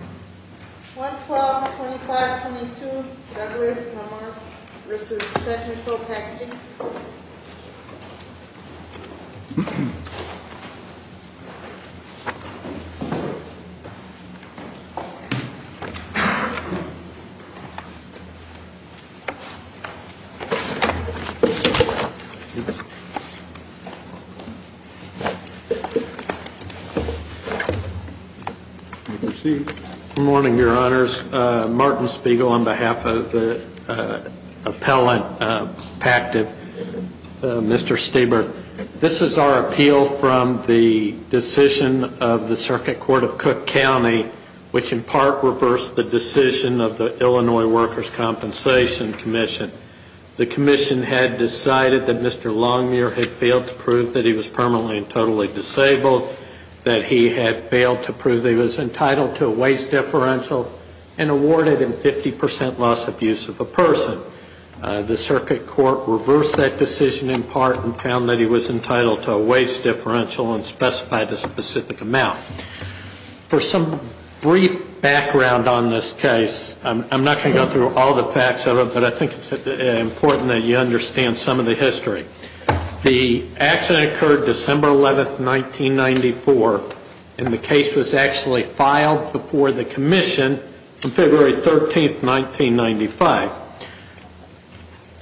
112, 25, 22, Douglas, Mumuir v. Technical Packaging Good morning, your honors. Martin Spiegel on behalf of the Appellate Pact of Appellate Pact. Mr. Stieber, this is our appeal from the decision of the Circuit Court of Cook County, which in part reversed the decision of the Illinois Workers' Compensation Commission. The commission had decided that Mr. Longmuir had failed to prove that he was permanently and totally disabled, that he had failed to prove he was entitled to a waste differential and awarded him 50 percent loss of use of a person. The Circuit Court reversed that decision in part and found that he was entitled to a waste differential and specified a specific amount. For some brief background on this case, I'm not going to go through all the facts of it, but I think it's important that you understand some of the history. The accident occurred December 11, 1994, and the case was actually filed before the commission on February 13, 1995.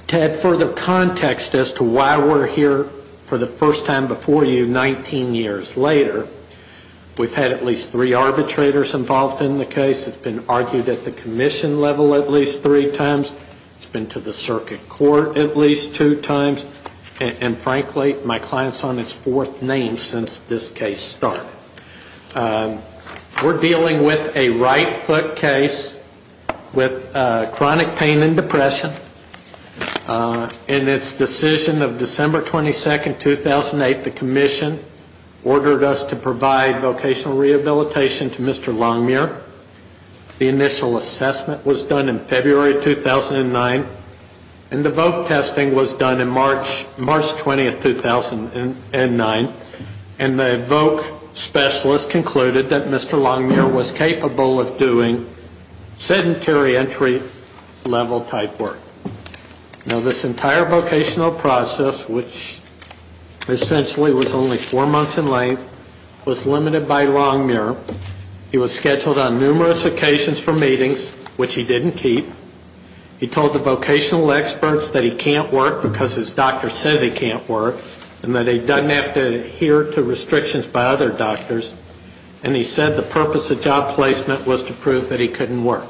To add further context as to why we're here for the first time before you 19 years later, we've had at least three arbitrators involved in the case. It's been argued at the commission level at least three times. It's been to the Circuit Court at least two times. And frankly, my client's on his fourth name since this case started. We're dealing with a right-foot case with chronic pain and depression. In its decision of December 22, 2008, the commission ordered us to provide vocational rehabilitation to Mr. Longmuir. The voc specialist concluded that Mr. Longmuir was capable of doing sedentary entry-level type work. Now, this entire vocational process, which essentially was only four months in length, was limited by Longmuir. He was scheduled on numerous occasions for meetings, which he didn't keep. He told the vocational experts that he can't work because his doctor says he can't work and that he doesn't have to adhere to restrictions by other doctors. And he said the purpose of job placement was to prove that he couldn't work.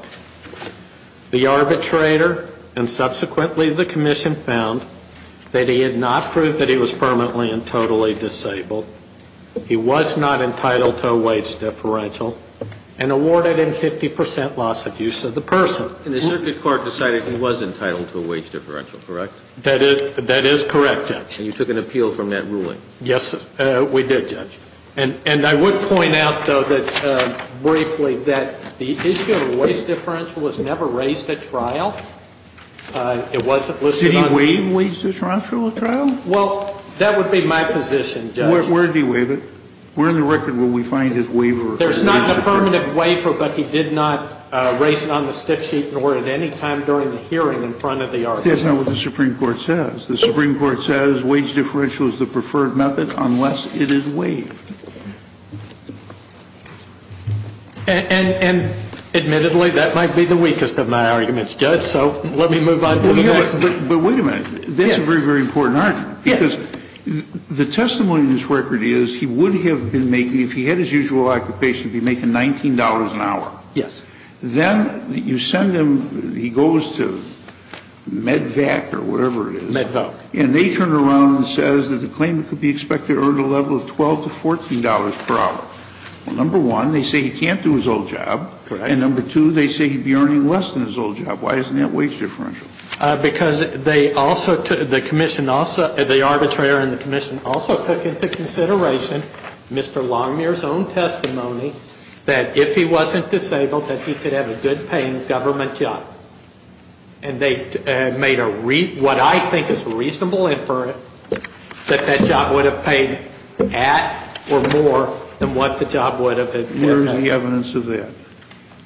The arbitrator and subsequently the commission found that he had not proved that he was permanently and totally disabled, he was not entitled to a wage differential, and awarded him 50 percent loss of use of the person. And the Circuit Court decided he was entitled to a wage differential, correct? That is correct, Judge. And you took an appeal from that ruling? Yes, we did, Judge. And I would point out, though, that briefly, that the issue of wage differential was never raised at trial. It wasn't listed on the court. Did he waive wage differential at trial? Well, that would be my position, Judge. Where did he waive it? Where in the record will we find his waiver? There's not a permanent waiver, but he did not raise it on the stick sheet or at any time during the hearing in front of the arbitrator. That's not what the Supreme Court says. The Supreme Court says wage differential is the preferred method unless it is waived. And admittedly, that might be the weakest of my arguments, Judge, so let me move on to the next. But wait a minute. Yes. That's a very, very important argument. Yes. Because the testimony in this record is he would have been making, if he had his usual occupation, be making $19 an hour. Yes. Then you send him, he goes to MedVac or whatever it is. MedVoc. And they turn around and says that the claimant could be expected to earn a level of $12 to $14 per hour. Well, number one, they say he can't do his old job. Correct. And number two, they say he'd be earning less than his old job. Why isn't that wage differential? Because they also took, the commission also, the arbitrator and the commission also took into consideration Mr. Longmuir's own testimony that if he wasn't disabled, that he could have a good-paying government job. And they made what I think is a reasonable inference that that job would have paid at or more than what the job would have. Where is the evidence of that?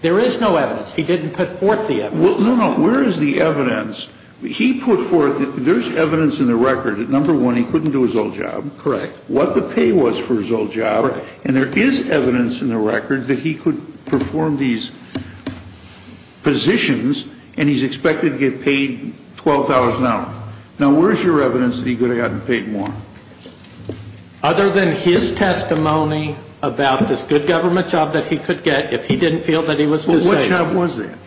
There is no evidence. He didn't put forth the evidence. No, no. Where is the evidence? He put forth, there's evidence in the record that number one, he couldn't do his old job. Correct. What the pay was for his old job. Correct. And there is evidence in the record that he could perform these positions and he's expected to get paid $12 an hour. Now, where is your evidence that he could have gotten paid more? Other than his testimony about this good government job that he could get if he didn't feel that he was disabled. What job was that?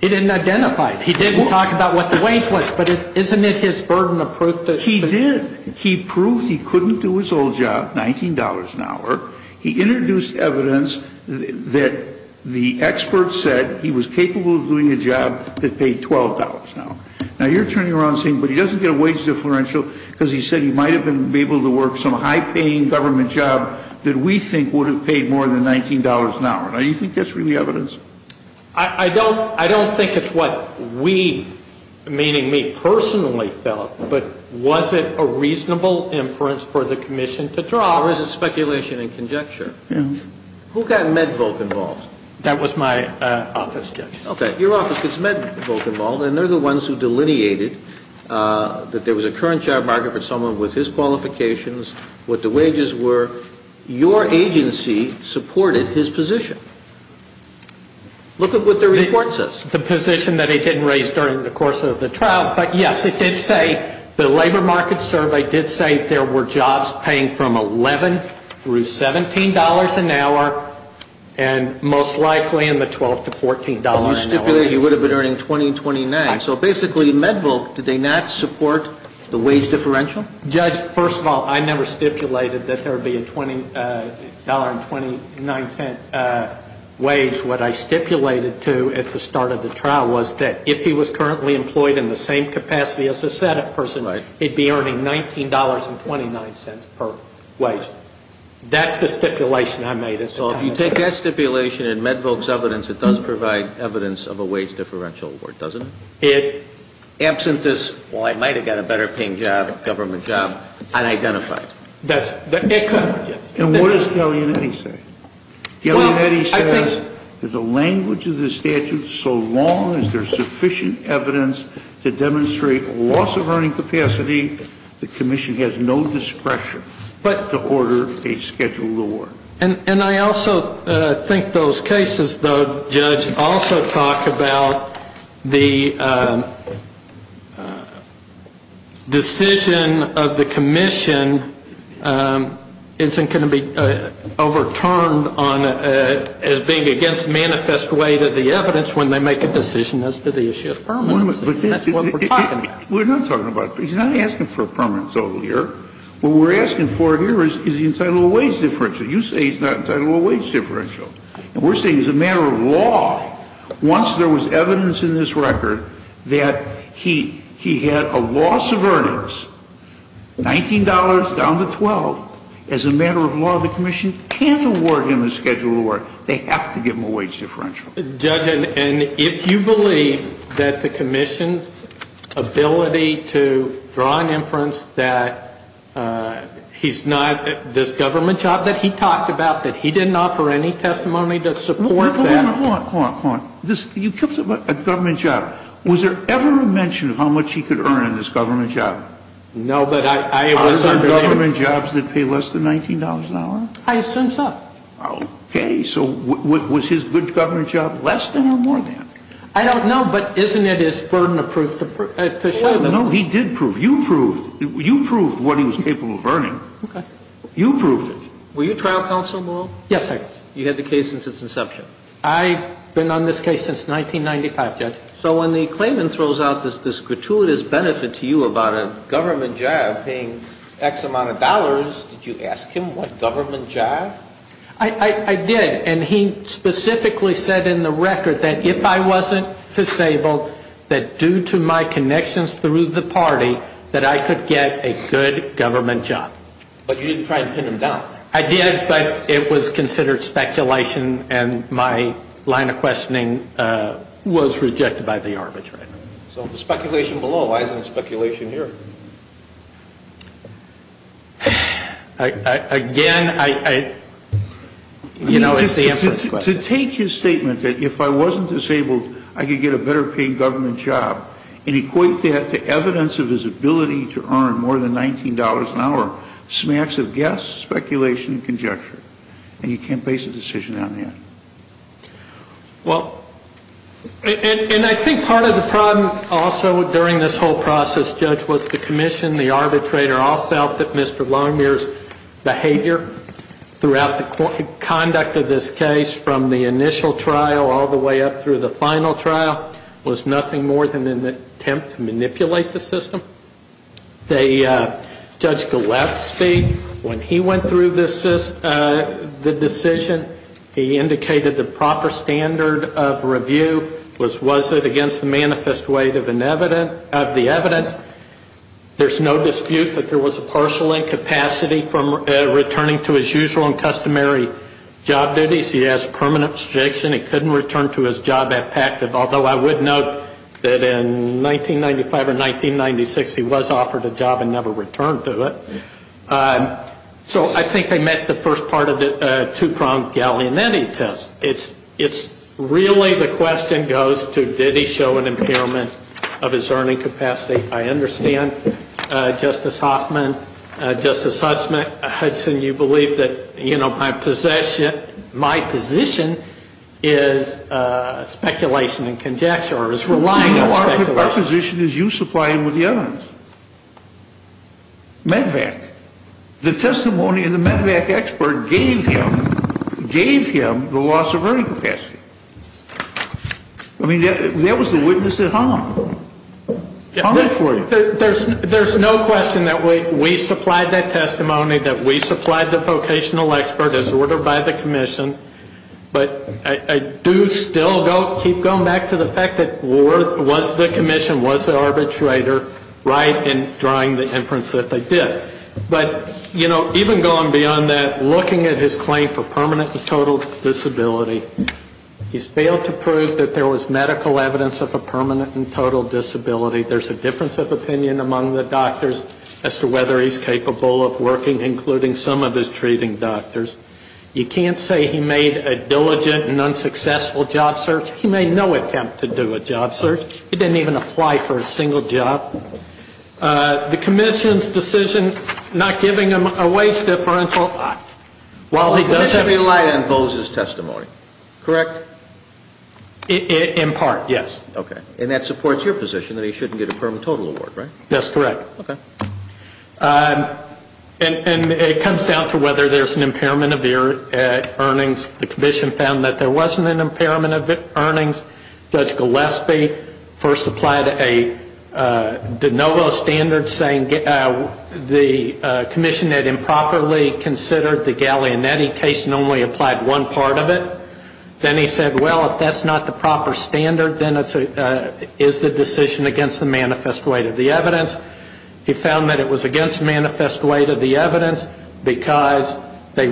He didn't identify it. He didn't talk about what the wage was. But isn't it his burden of proof? He did. He proved he couldn't do his old job, $19 an hour. He introduced evidence that the expert said he was capable of doing a job that paid $12 an hour. Now, you're turning around saying, but he doesn't get a wage differential because he said he might have been able to work some high-paying government job that we think would have paid more than $19 an hour. Now, do you think that's really evidence? I don't think it's what we, meaning me, personally felt, but was it a reasonable inference for the commission to draw? Or is it speculation and conjecture? Who got MedVolk involved? That was my office judge. Okay. Your office gets MedVolk involved, and they're the ones who delineated that there was a current job market for someone with his qualifications, what the wages were. Your agency supported his position. Look at what the report says. The position that he didn't raise during the course of the trial, but, yes, it did say the labor market survey did say there were jobs paying from $11 through $17 an hour, and most likely in the $12 to $14 an hour. Well, you stipulated he would have been earning $20 and $29. So basically, MedVolk, did they not support the wage differential? Judge, first of all, I never stipulated that there would be a $20 and $0.29 wage. What I stipulated, too, at the start of the trial was that if he was currently employed in the same capacity as a SADC person, he'd be earning $19 and $0.29 per wage. That's the stipulation I made at the time. So if you take that stipulation and MedVolk's evidence, it does provide evidence of a wage differential award, doesn't it? Absent this, well, I might have got a better-paying job, government job, unidentified. It could. And what does Gaglianetti say? Gaglianetti says that the language of the statute, so long as there's sufficient evidence to demonstrate loss of earning capacity, the commission has no discretion to order a scheduled award. And I also think those cases, though, Judge, also talk about the decision of the commission isn't going to be overturned as being against manifest way to the evidence when they make a decision as to the issue of permanency. That's what we're talking about. We're not talking about it. He's not asking for a permanent total year. What we're asking for here is the entitled wage differential. You say he's not entitled to a wage differential. And we're saying as a matter of law, once there was evidence in this record that he had a loss of earnings, $19 down to 12, as a matter of law, the commission can't award him a scheduled award. They have to give him a wage differential. Judge, and if you believe that the commission's ability to draw an inference that he's not, this government job that he talked about, that he didn't offer any testimony to support that. Hold on, hold on, hold on. This, you kept talking about a government job. Was there ever a mention of how much he could earn in this government job? No, but I. Was there government jobs that pay less than $19 an hour? I assume so. Okay. So was his good government job less than or more than? I don't know, but isn't it his burden of proof to show? No, he did prove. You proved. You proved what he was capable of earning. You proved it. Were you trial counsel, Moreau? Yes, I was. You had the case since its inception? I've been on this case since 1995, Judge. So when the claimant throws out this gratuitous benefit to you about a government job paying X amount of dollars, did you ask him what government job? I did, and he specifically said in the record that if I wasn't disabled, that due to my connections through the party, that I could get a good government job. But you didn't try and pin him down? I did, but it was considered speculation, and my line of questioning was rejected by the arbitrator. So the speculation below, why isn't the speculation here? Again, I, you know, it's the inference question. To take his statement that if I wasn't disabled, I could get a better paying government job, and equate that to evidence of his ability to earn more than $19 an hour, smacks of guess, speculation, and conjecture, and you can't base a decision on that? Well, and I think part of the problem also during this whole process, Judge, was the commission, the arbitrator, all felt that Mr. Longmuir's behavior throughout the conduct of this case, from the initial trial all the way up through the final trial, was nothing more than an attempt to manipulate the system. Judge Gillespie, when he went through the decision, he indicated the proper standard of review was, was it against the manifest weight of the evidence? There's no dispute that there was a partial incapacity from returning to his usual and customary job duties. He has permanent restriction. He couldn't return to his job at PACT, although I would note that in 1995 or 1996, he was offered a job and never returned to it. So I think they met the first part of the two-pronged galleonetting test. It's really the question goes to, did he show an impairment of his earning capacity? I understand, Justice Hoffman, Justice Hudson, you believe that, you know, my position is speculation and conjecture, or is relying on speculation. No, our position is you supply him with the evidence. MedVac, the testimony of the MedVac expert gave him, gave him the loss of earning capacity. I mean, that was the witness at home. I'll read it for you. There's no question that we supplied that testimony, that we supplied the vocational expert as ordered by the commission, but I do still keep going back to the fact that was the commission, was the arbitrator right in drawing the inference that they did? But, you know, even going beyond that, looking at his claim for permanent and total disability, he's failed to prove that there was medical evidence of a permanent and total disability. There's a difference of opinion among the doctors as to whether he's capable of working, including some of his treating doctors. You can't say he made a diligent and unsuccessful job search. He made no attempt to do a job search. He didn't even apply for a single job. The commission's decision not giving him a wage differential, while he does have to be light on Bose's testimony, correct? In part, yes. Okay. And that supports your position that he shouldn't get a permanent and total award, right? That's correct. Okay. And it comes down to whether there's an impairment of earnings. The commission found that there wasn't an impairment of earnings. Judge Gillespie first applied a de novo standard saying the commission had improperly considered the Gallianetti case and only applied one part of it. Then he said, well, if that's not the proper standard, then it's the decision against the manifest weight of the evidence. He found that it was against manifest weight of the evidence because they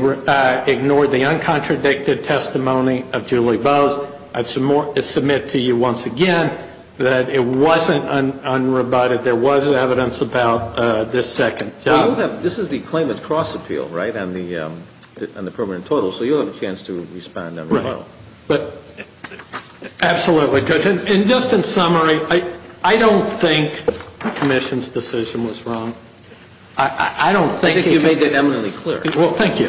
ignored the uncontradicted testimony of Julie Bose. I submit to you once again that it wasn't unrebutted. There was evidence about this second job. This is the claimant's cross appeal, right, on the permanent and total. So you'll have a chance to respond unrebutted. Right. Absolutely. And just in summary, I don't think the commission's decision was wrong. I don't think it was. I think you made that eminently clear. Well, thank you.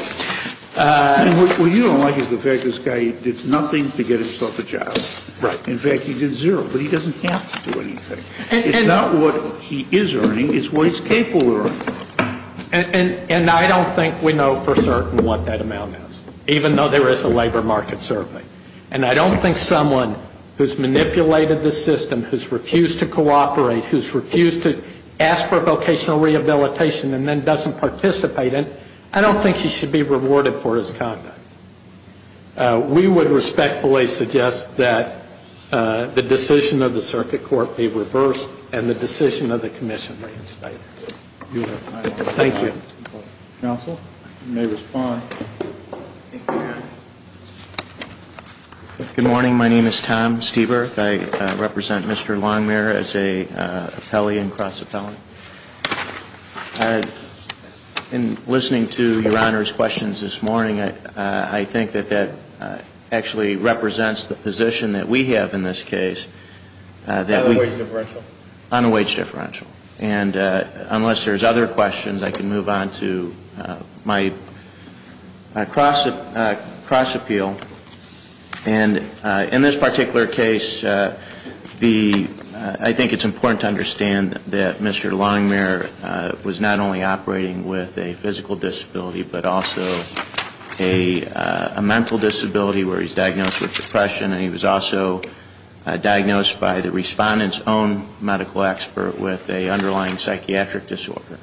What you don't like is the fact this guy did nothing to get himself a job. Right. In fact, he did zero, but he doesn't have to do anything. It's not what he is earning. It's what he's capable of earning. And I don't think we know for certain what that amount is, even though there is a labor market survey. And I don't think someone who's manipulated the system, who's refused to cooperate, who's refused to ask for vocational rehabilitation and then doesn't participate in it, I don't think he should be rewarded for his conduct. We would respectfully suggest that the decision of the circuit court be reversed and the decision of the commission reinstated. Thank you. Counsel? You may respond. Good morning. My name is Tom Stieberth. I represent Mr. Longmire as an appellee and cross-appellant. In listening to Your Honor's questions this morning, I think that that actually represents the position that we have in this case. On a wage differential? On a wage differential. And unless there's other questions, I can move on to my cross-appeal. And in this particular case, I think it's important to understand that Mr. Longmire was not only operating with a physical disability but also a mental disability where he's diagnosed with depression and he was also diagnosed by the respondent's own medical expert with an underlying psychiatric disorder,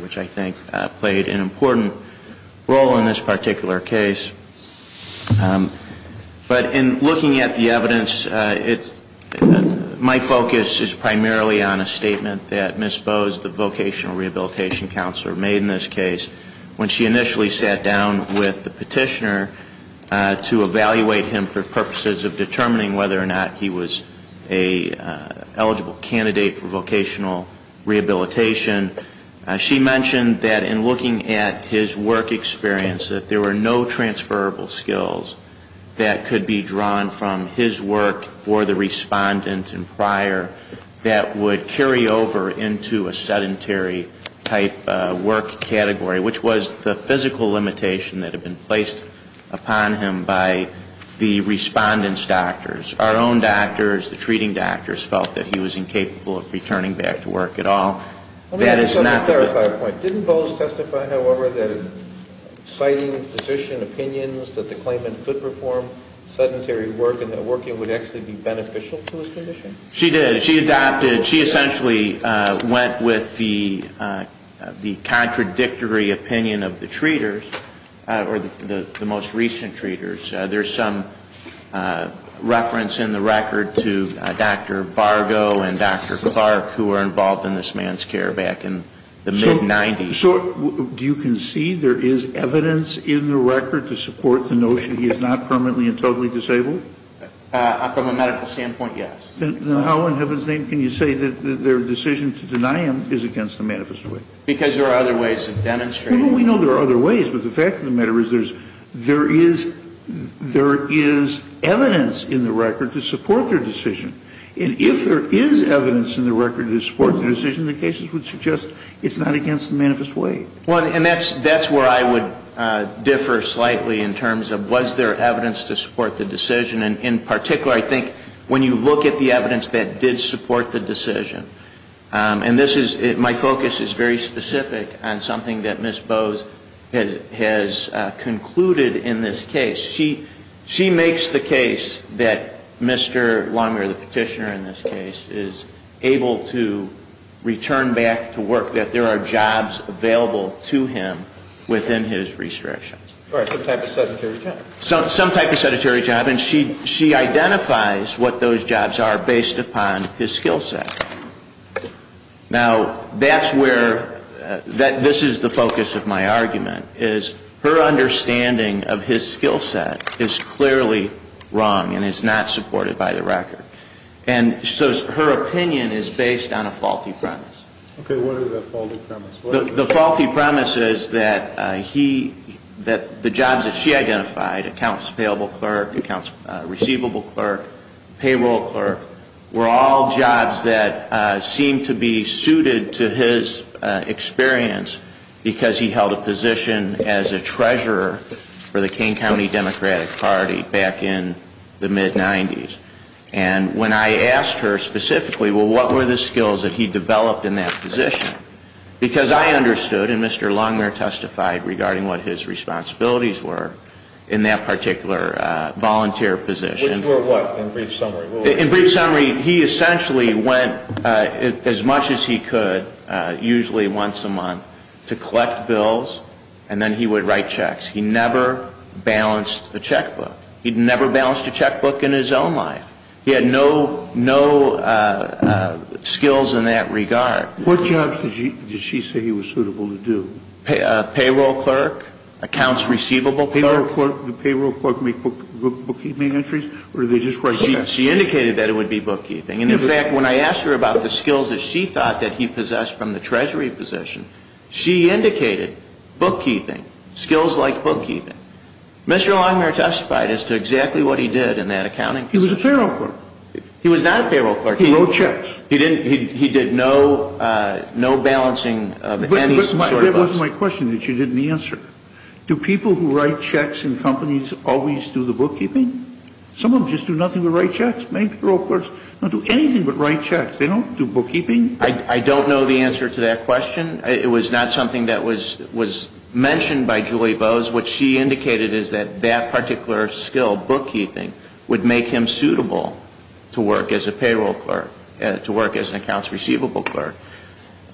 which I think played an important role in this particular case. But in looking at the evidence, my focus is primarily on a statement that Ms. Bowes, the vocational rehabilitation counselor made in this case when she initially sat down with the petitioner to evaluate him for purposes of determining whether or not he was an eligible candidate for vocational rehabilitation. She mentioned that in looking at his work experience that there were no transferable skills that could be drawn from his work for the respondent and prior that would carry over into a sedentary-type work category, which was the physical limitation that had been placed upon him by the respondent's doctors. Our own doctors, the treating doctors, felt that he was incapable of returning back to work at all. That is not the point. Let me clarify a point. Didn't Bowes testify, however, that in citing physician opinions that the claimant could perform sedentary work and that working would actually be beneficial to his condition? She did. She adopted. She essentially went with the contradictory opinion of the treaters, or the most recent treaters. There's some reference in the record to Dr. Vargo and Dr. Clark, who were involved in this man's care back in the mid-'90s. So do you concede there is evidence in the record to support the notion he is not permanently and totally disabled? From a medical standpoint, yes. Then how in heaven's name can you say that their decision to deny him is against the manifest way? Because there are other ways of demonstrating it. Well, we know there are other ways, but the fact of the matter is there is evidence in the record to support their decision. And if there is evidence in the record to support their decision, the cases would suggest it's not against the manifest way. Well, and that's where I would differ slightly in terms of was there evidence to support the decision. In particular, I think when you look at the evidence that did support the decision. And this is my focus is very specific on something that Ms. Bowes has concluded in this case. She makes the case that Mr. Longmeier, the petitioner in this case, is able to return back to work, that there are jobs available to him within his restriction. All right. Some type of sedentary job. Some type of sedentary job. And she identifies what those jobs are based upon his skill set. Now, that's where this is the focus of my argument is her understanding of his skill set is clearly wrong and is not supported by the record. And so her opinion is based on a faulty premise. Okay. What is that faulty premise? The faulty premise is that the jobs that she identified, accounts payable clerk, accounts receivable clerk, payroll clerk, were all jobs that seemed to be suited to his experience because he held a position as a treasurer for the King County Democratic Party back in the mid-90s. And when I asked her specifically, well, what were the skills that he developed in that position? Because I understood, and Mr. Longmeier testified regarding what his responsibilities were in that particular volunteer position. Which were what? In brief summary. In brief summary, he essentially went as much as he could, usually once a month, to collect bills, and then he would write checks. He never balanced a checkbook. He never balanced a checkbook in his own life. He had no skills in that regard. What jobs did she say he was suitable to do? Payroll clerk, accounts receivable clerk. Did payroll clerk make bookkeeping entries, or did they just write checks? She indicated that it would be bookkeeping. And in fact, when I asked her about the skills that she thought that he possessed from the treasury position, she indicated bookkeeping, skills like bookkeeping. Mr. Longmeier testified as to exactly what he did in that accounting position. He was a payroll clerk. He was not a payroll clerk. He wrote checks. He did no balancing of any sort of us. But that wasn't my question that you didn't answer. Do people who write checks in companies always do the bookkeeping? Some of them just do nothing but write checks. Many payroll clerks don't do anything but write checks. They don't do bookkeeping. I don't know the answer to that question. It was not something that was mentioned by Julie Bowes. What she indicated is that that particular skill, bookkeeping, would make him suitable to work as a payroll clerk, to work as an accounts receivable clerk.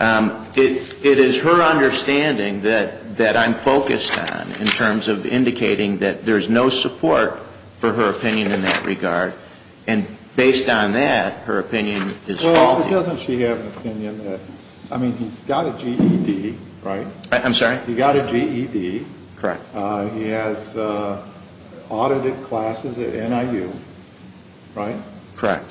It is her understanding that I'm focused on in terms of indicating that there's no support for her opinion in that regard. And based on that, her opinion is faulty. Well, doesn't she have an opinion that, I mean, he's got a GED, right? I'm sorry? He got a GED. Correct. He has audited classes at NIU, right? Correct.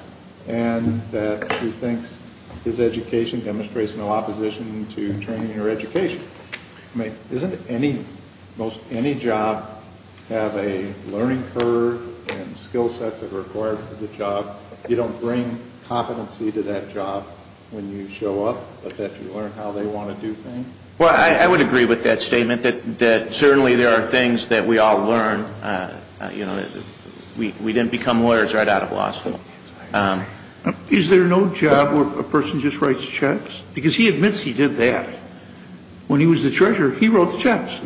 And that he thinks his education demonstrates no opposition to training or education. I mean, doesn't any job have a learning curve and skill sets that are required for the job? You don't bring competency to that job when you show up, but that you learn how they want to do things? Well, I would agree with that statement, that certainly there are things that we all learn. You know, we didn't become lawyers right out of law school. Is there no job where a person just writes checks? Because he admits he did that. When he was the treasurer, he wrote the checks.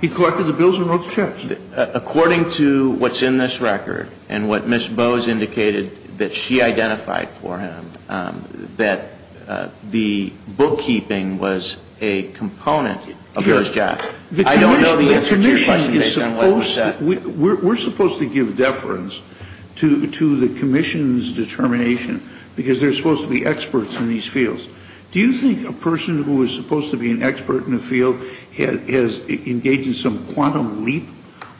He collected the bills and wrote the checks. According to what's in this record and what Ms. Bowes indicated that she identified for him, that the bookkeeping was a component of his job. I don't know the answer to your question based on what was said. We're supposed to give deference to the commission's determination because there are supposed to be experts in these fields. Do you think a person who is supposed to be an expert in the field has engaged in some quantum leap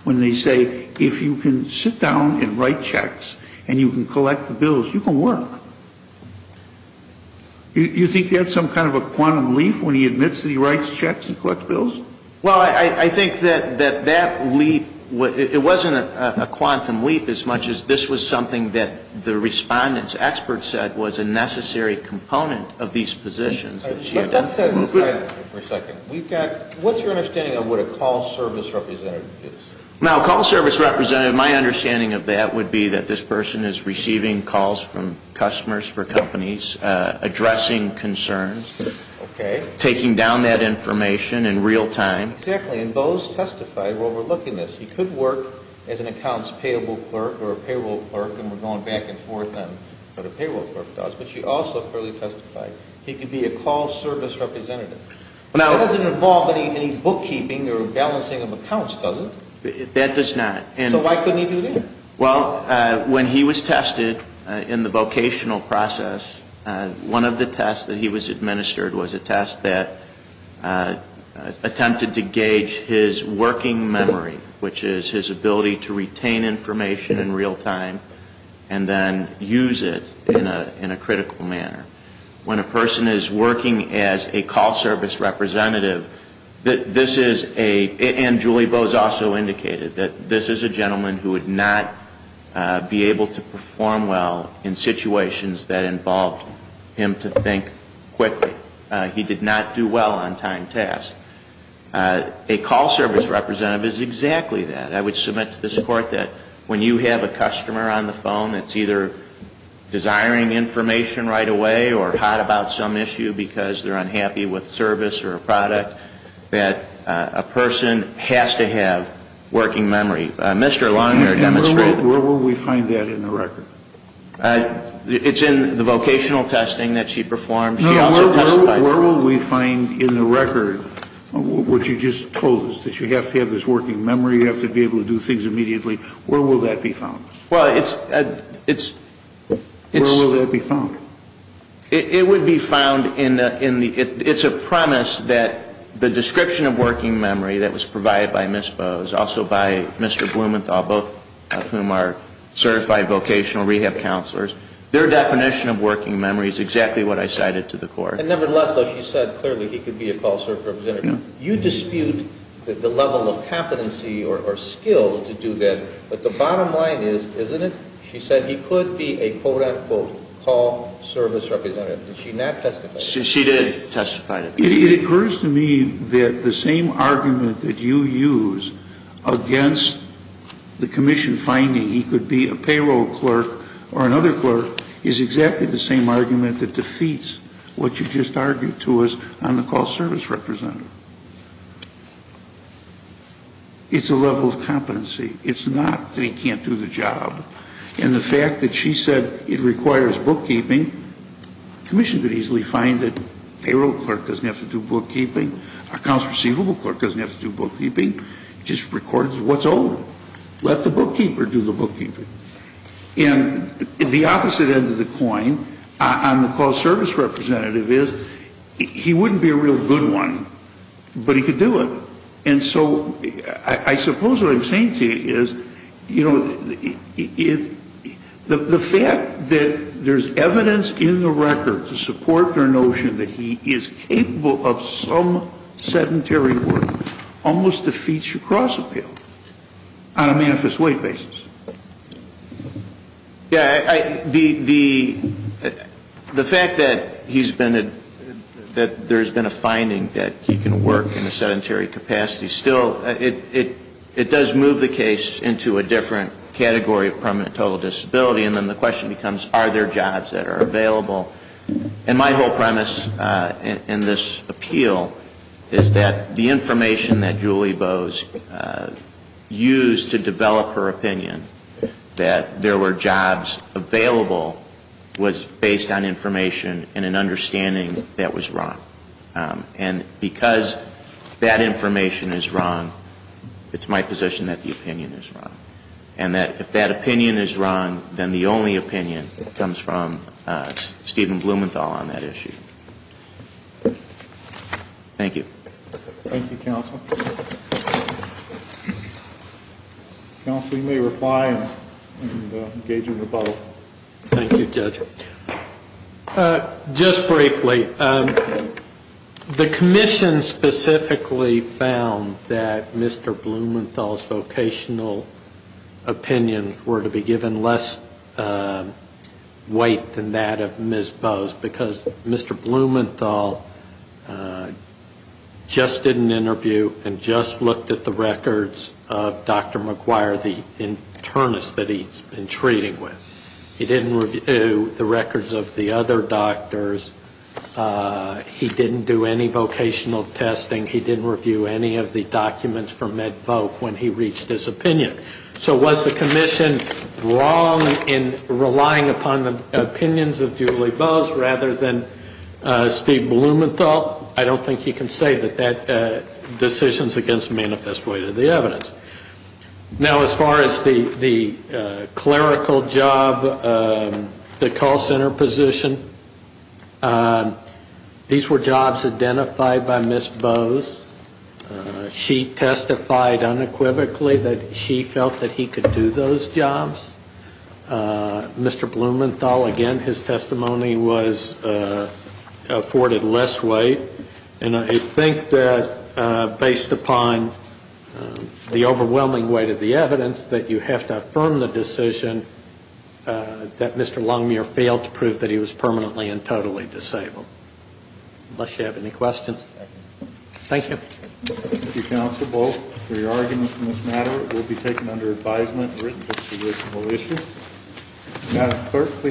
when they say if you can sit down and write checks and you can collect the bills, you can work? Do you think that's some kind of a quantum leap when he admits that he writes checks and collects bills? Well, I think that that leap, it wasn't a quantum leap as much as this was something that the respondent's expert said was a necessary component of these positions. Let's set aside for a second. What's your understanding of what a call service representative is? Now, a call service representative, my understanding of that would be that this person is receiving calls from customers for companies, addressing concerns. Okay. Taking down that information in real time. Exactly. And those testified were overlooking this. He could work as an accounts payable clerk or a payroll clerk, and we're going back and forth on what a payroll clerk does. But you also clearly testified he could be a call service representative. That doesn't involve any bookkeeping or balancing of accounts, does it? That does not. So why couldn't he do that? Well, when he was tested in the vocational process, one of the tests that he was administered was a test that attempted to gauge his working memory, which is his ability to retain information in real time and then use it in a critical manner. When a person is working as a call service representative, this is a, and Julie Bowes also indicated, that this is a gentleman who would not be able to perform well in situations that involved him to think quickly. He did not do well on timed tasks. A call service representative is exactly that. I would submit to this Court that when you have a customer on the phone that's either desiring information right away or hot about some issue because they're unhappy with service or a product, that a person has to have working memory. Mr. Long here demonstrated. And where will we find that in the record? It's in the vocational testing that she performed. She also testified. Where will we find in the record what you just told us, that you have to have this working memory, you have to be able to do things immediately? Where will that be found? Well, it's, it's. Where will that be found? It would be found in the, it's a promise that the description of working memory that was provided by Ms. Bowes, also by Mr. Blumenthal, both of whom are certified vocational rehab counselors, their definition of working memory is exactly what I cited to the Court. And nevertheless, though, she said clearly he could be a call service representative. You dispute the level of competency or skill to do that. But the bottom line is, isn't it? She said he could be a, quote, unquote, call service representative. Did she not testify? She did testify to that. It occurs to me that the same argument that you use against the commission finding he could be a payroll clerk or another clerk is exactly the same argument that defeats what you just argued to us on the call service representative. It's a level of competency. It's not that he can't do the job. And the fact that she said it requires bookkeeping, commission could easily find it. Payroll clerk doesn't have to do bookkeeping. Accounts receivable clerk doesn't have to do bookkeeping. It just records what's owed. Let the bookkeeper do the bookkeeping. And the opposite end of the coin on the call service representative is he wouldn't be a real good one, but he could do it. And so I suppose what I'm saying to you is, you know, the fact that there's evidence in the record to support their notion that he is capable of some sedentary work almost defeats your cross-appeal on a manifest weight basis. Yeah, the fact that he's been, that there's been a finding that he can work in a sedentary capacity still, it does move the case into a different category of permanent total disability. And then the question becomes, are there jobs that are available? And my whole premise in this appeal is that the information that Julie Bowes used to develop her opinion that there were jobs available was based on information and an understanding that was wrong. And because that information is wrong, it's my position that the opinion is wrong. And that if that opinion is wrong, then the only opinion comes from Stephen Blumenthal on that issue. Thank you. Thank you, counsel. Counsel, you may reply and engage in rebuttal. Thank you, Judge. Just briefly, the commission specifically found that Mr. Blumenthal's vocational opinions were to be given less weight than that of Ms. Bowes because Mr. Blumenthal just did an interview and just looked at the records of Dr. McGuire, the internist that he's been treating with. He didn't review the records of the other doctors. He didn't do any vocational testing. He didn't review any of the documents from MedVolk when he reached his opinion. So was the commission wrong in relying upon the opinions of Julie Bowes rather than Stephen Blumenthal? I don't think you can say that that decision is against the manifest weight of the evidence. Now, as far as the clerical job, the call center position, these were jobs identified by Ms. Bowes. She testified unequivocally that she felt that he could do those jobs. Mr. Blumenthal, again, his testimony was afforded less weight. And I think that based upon the overwhelming weight of the evidence that you have to affirm the decision that Mr. Longmuir failed to prove that he was permanently and totally disabled. Unless you have any questions. Thank you. Thank you, counsel. Both of your arguments in this matter will be taken under advisement and written to the reasonable issue. Madam Clerk, please.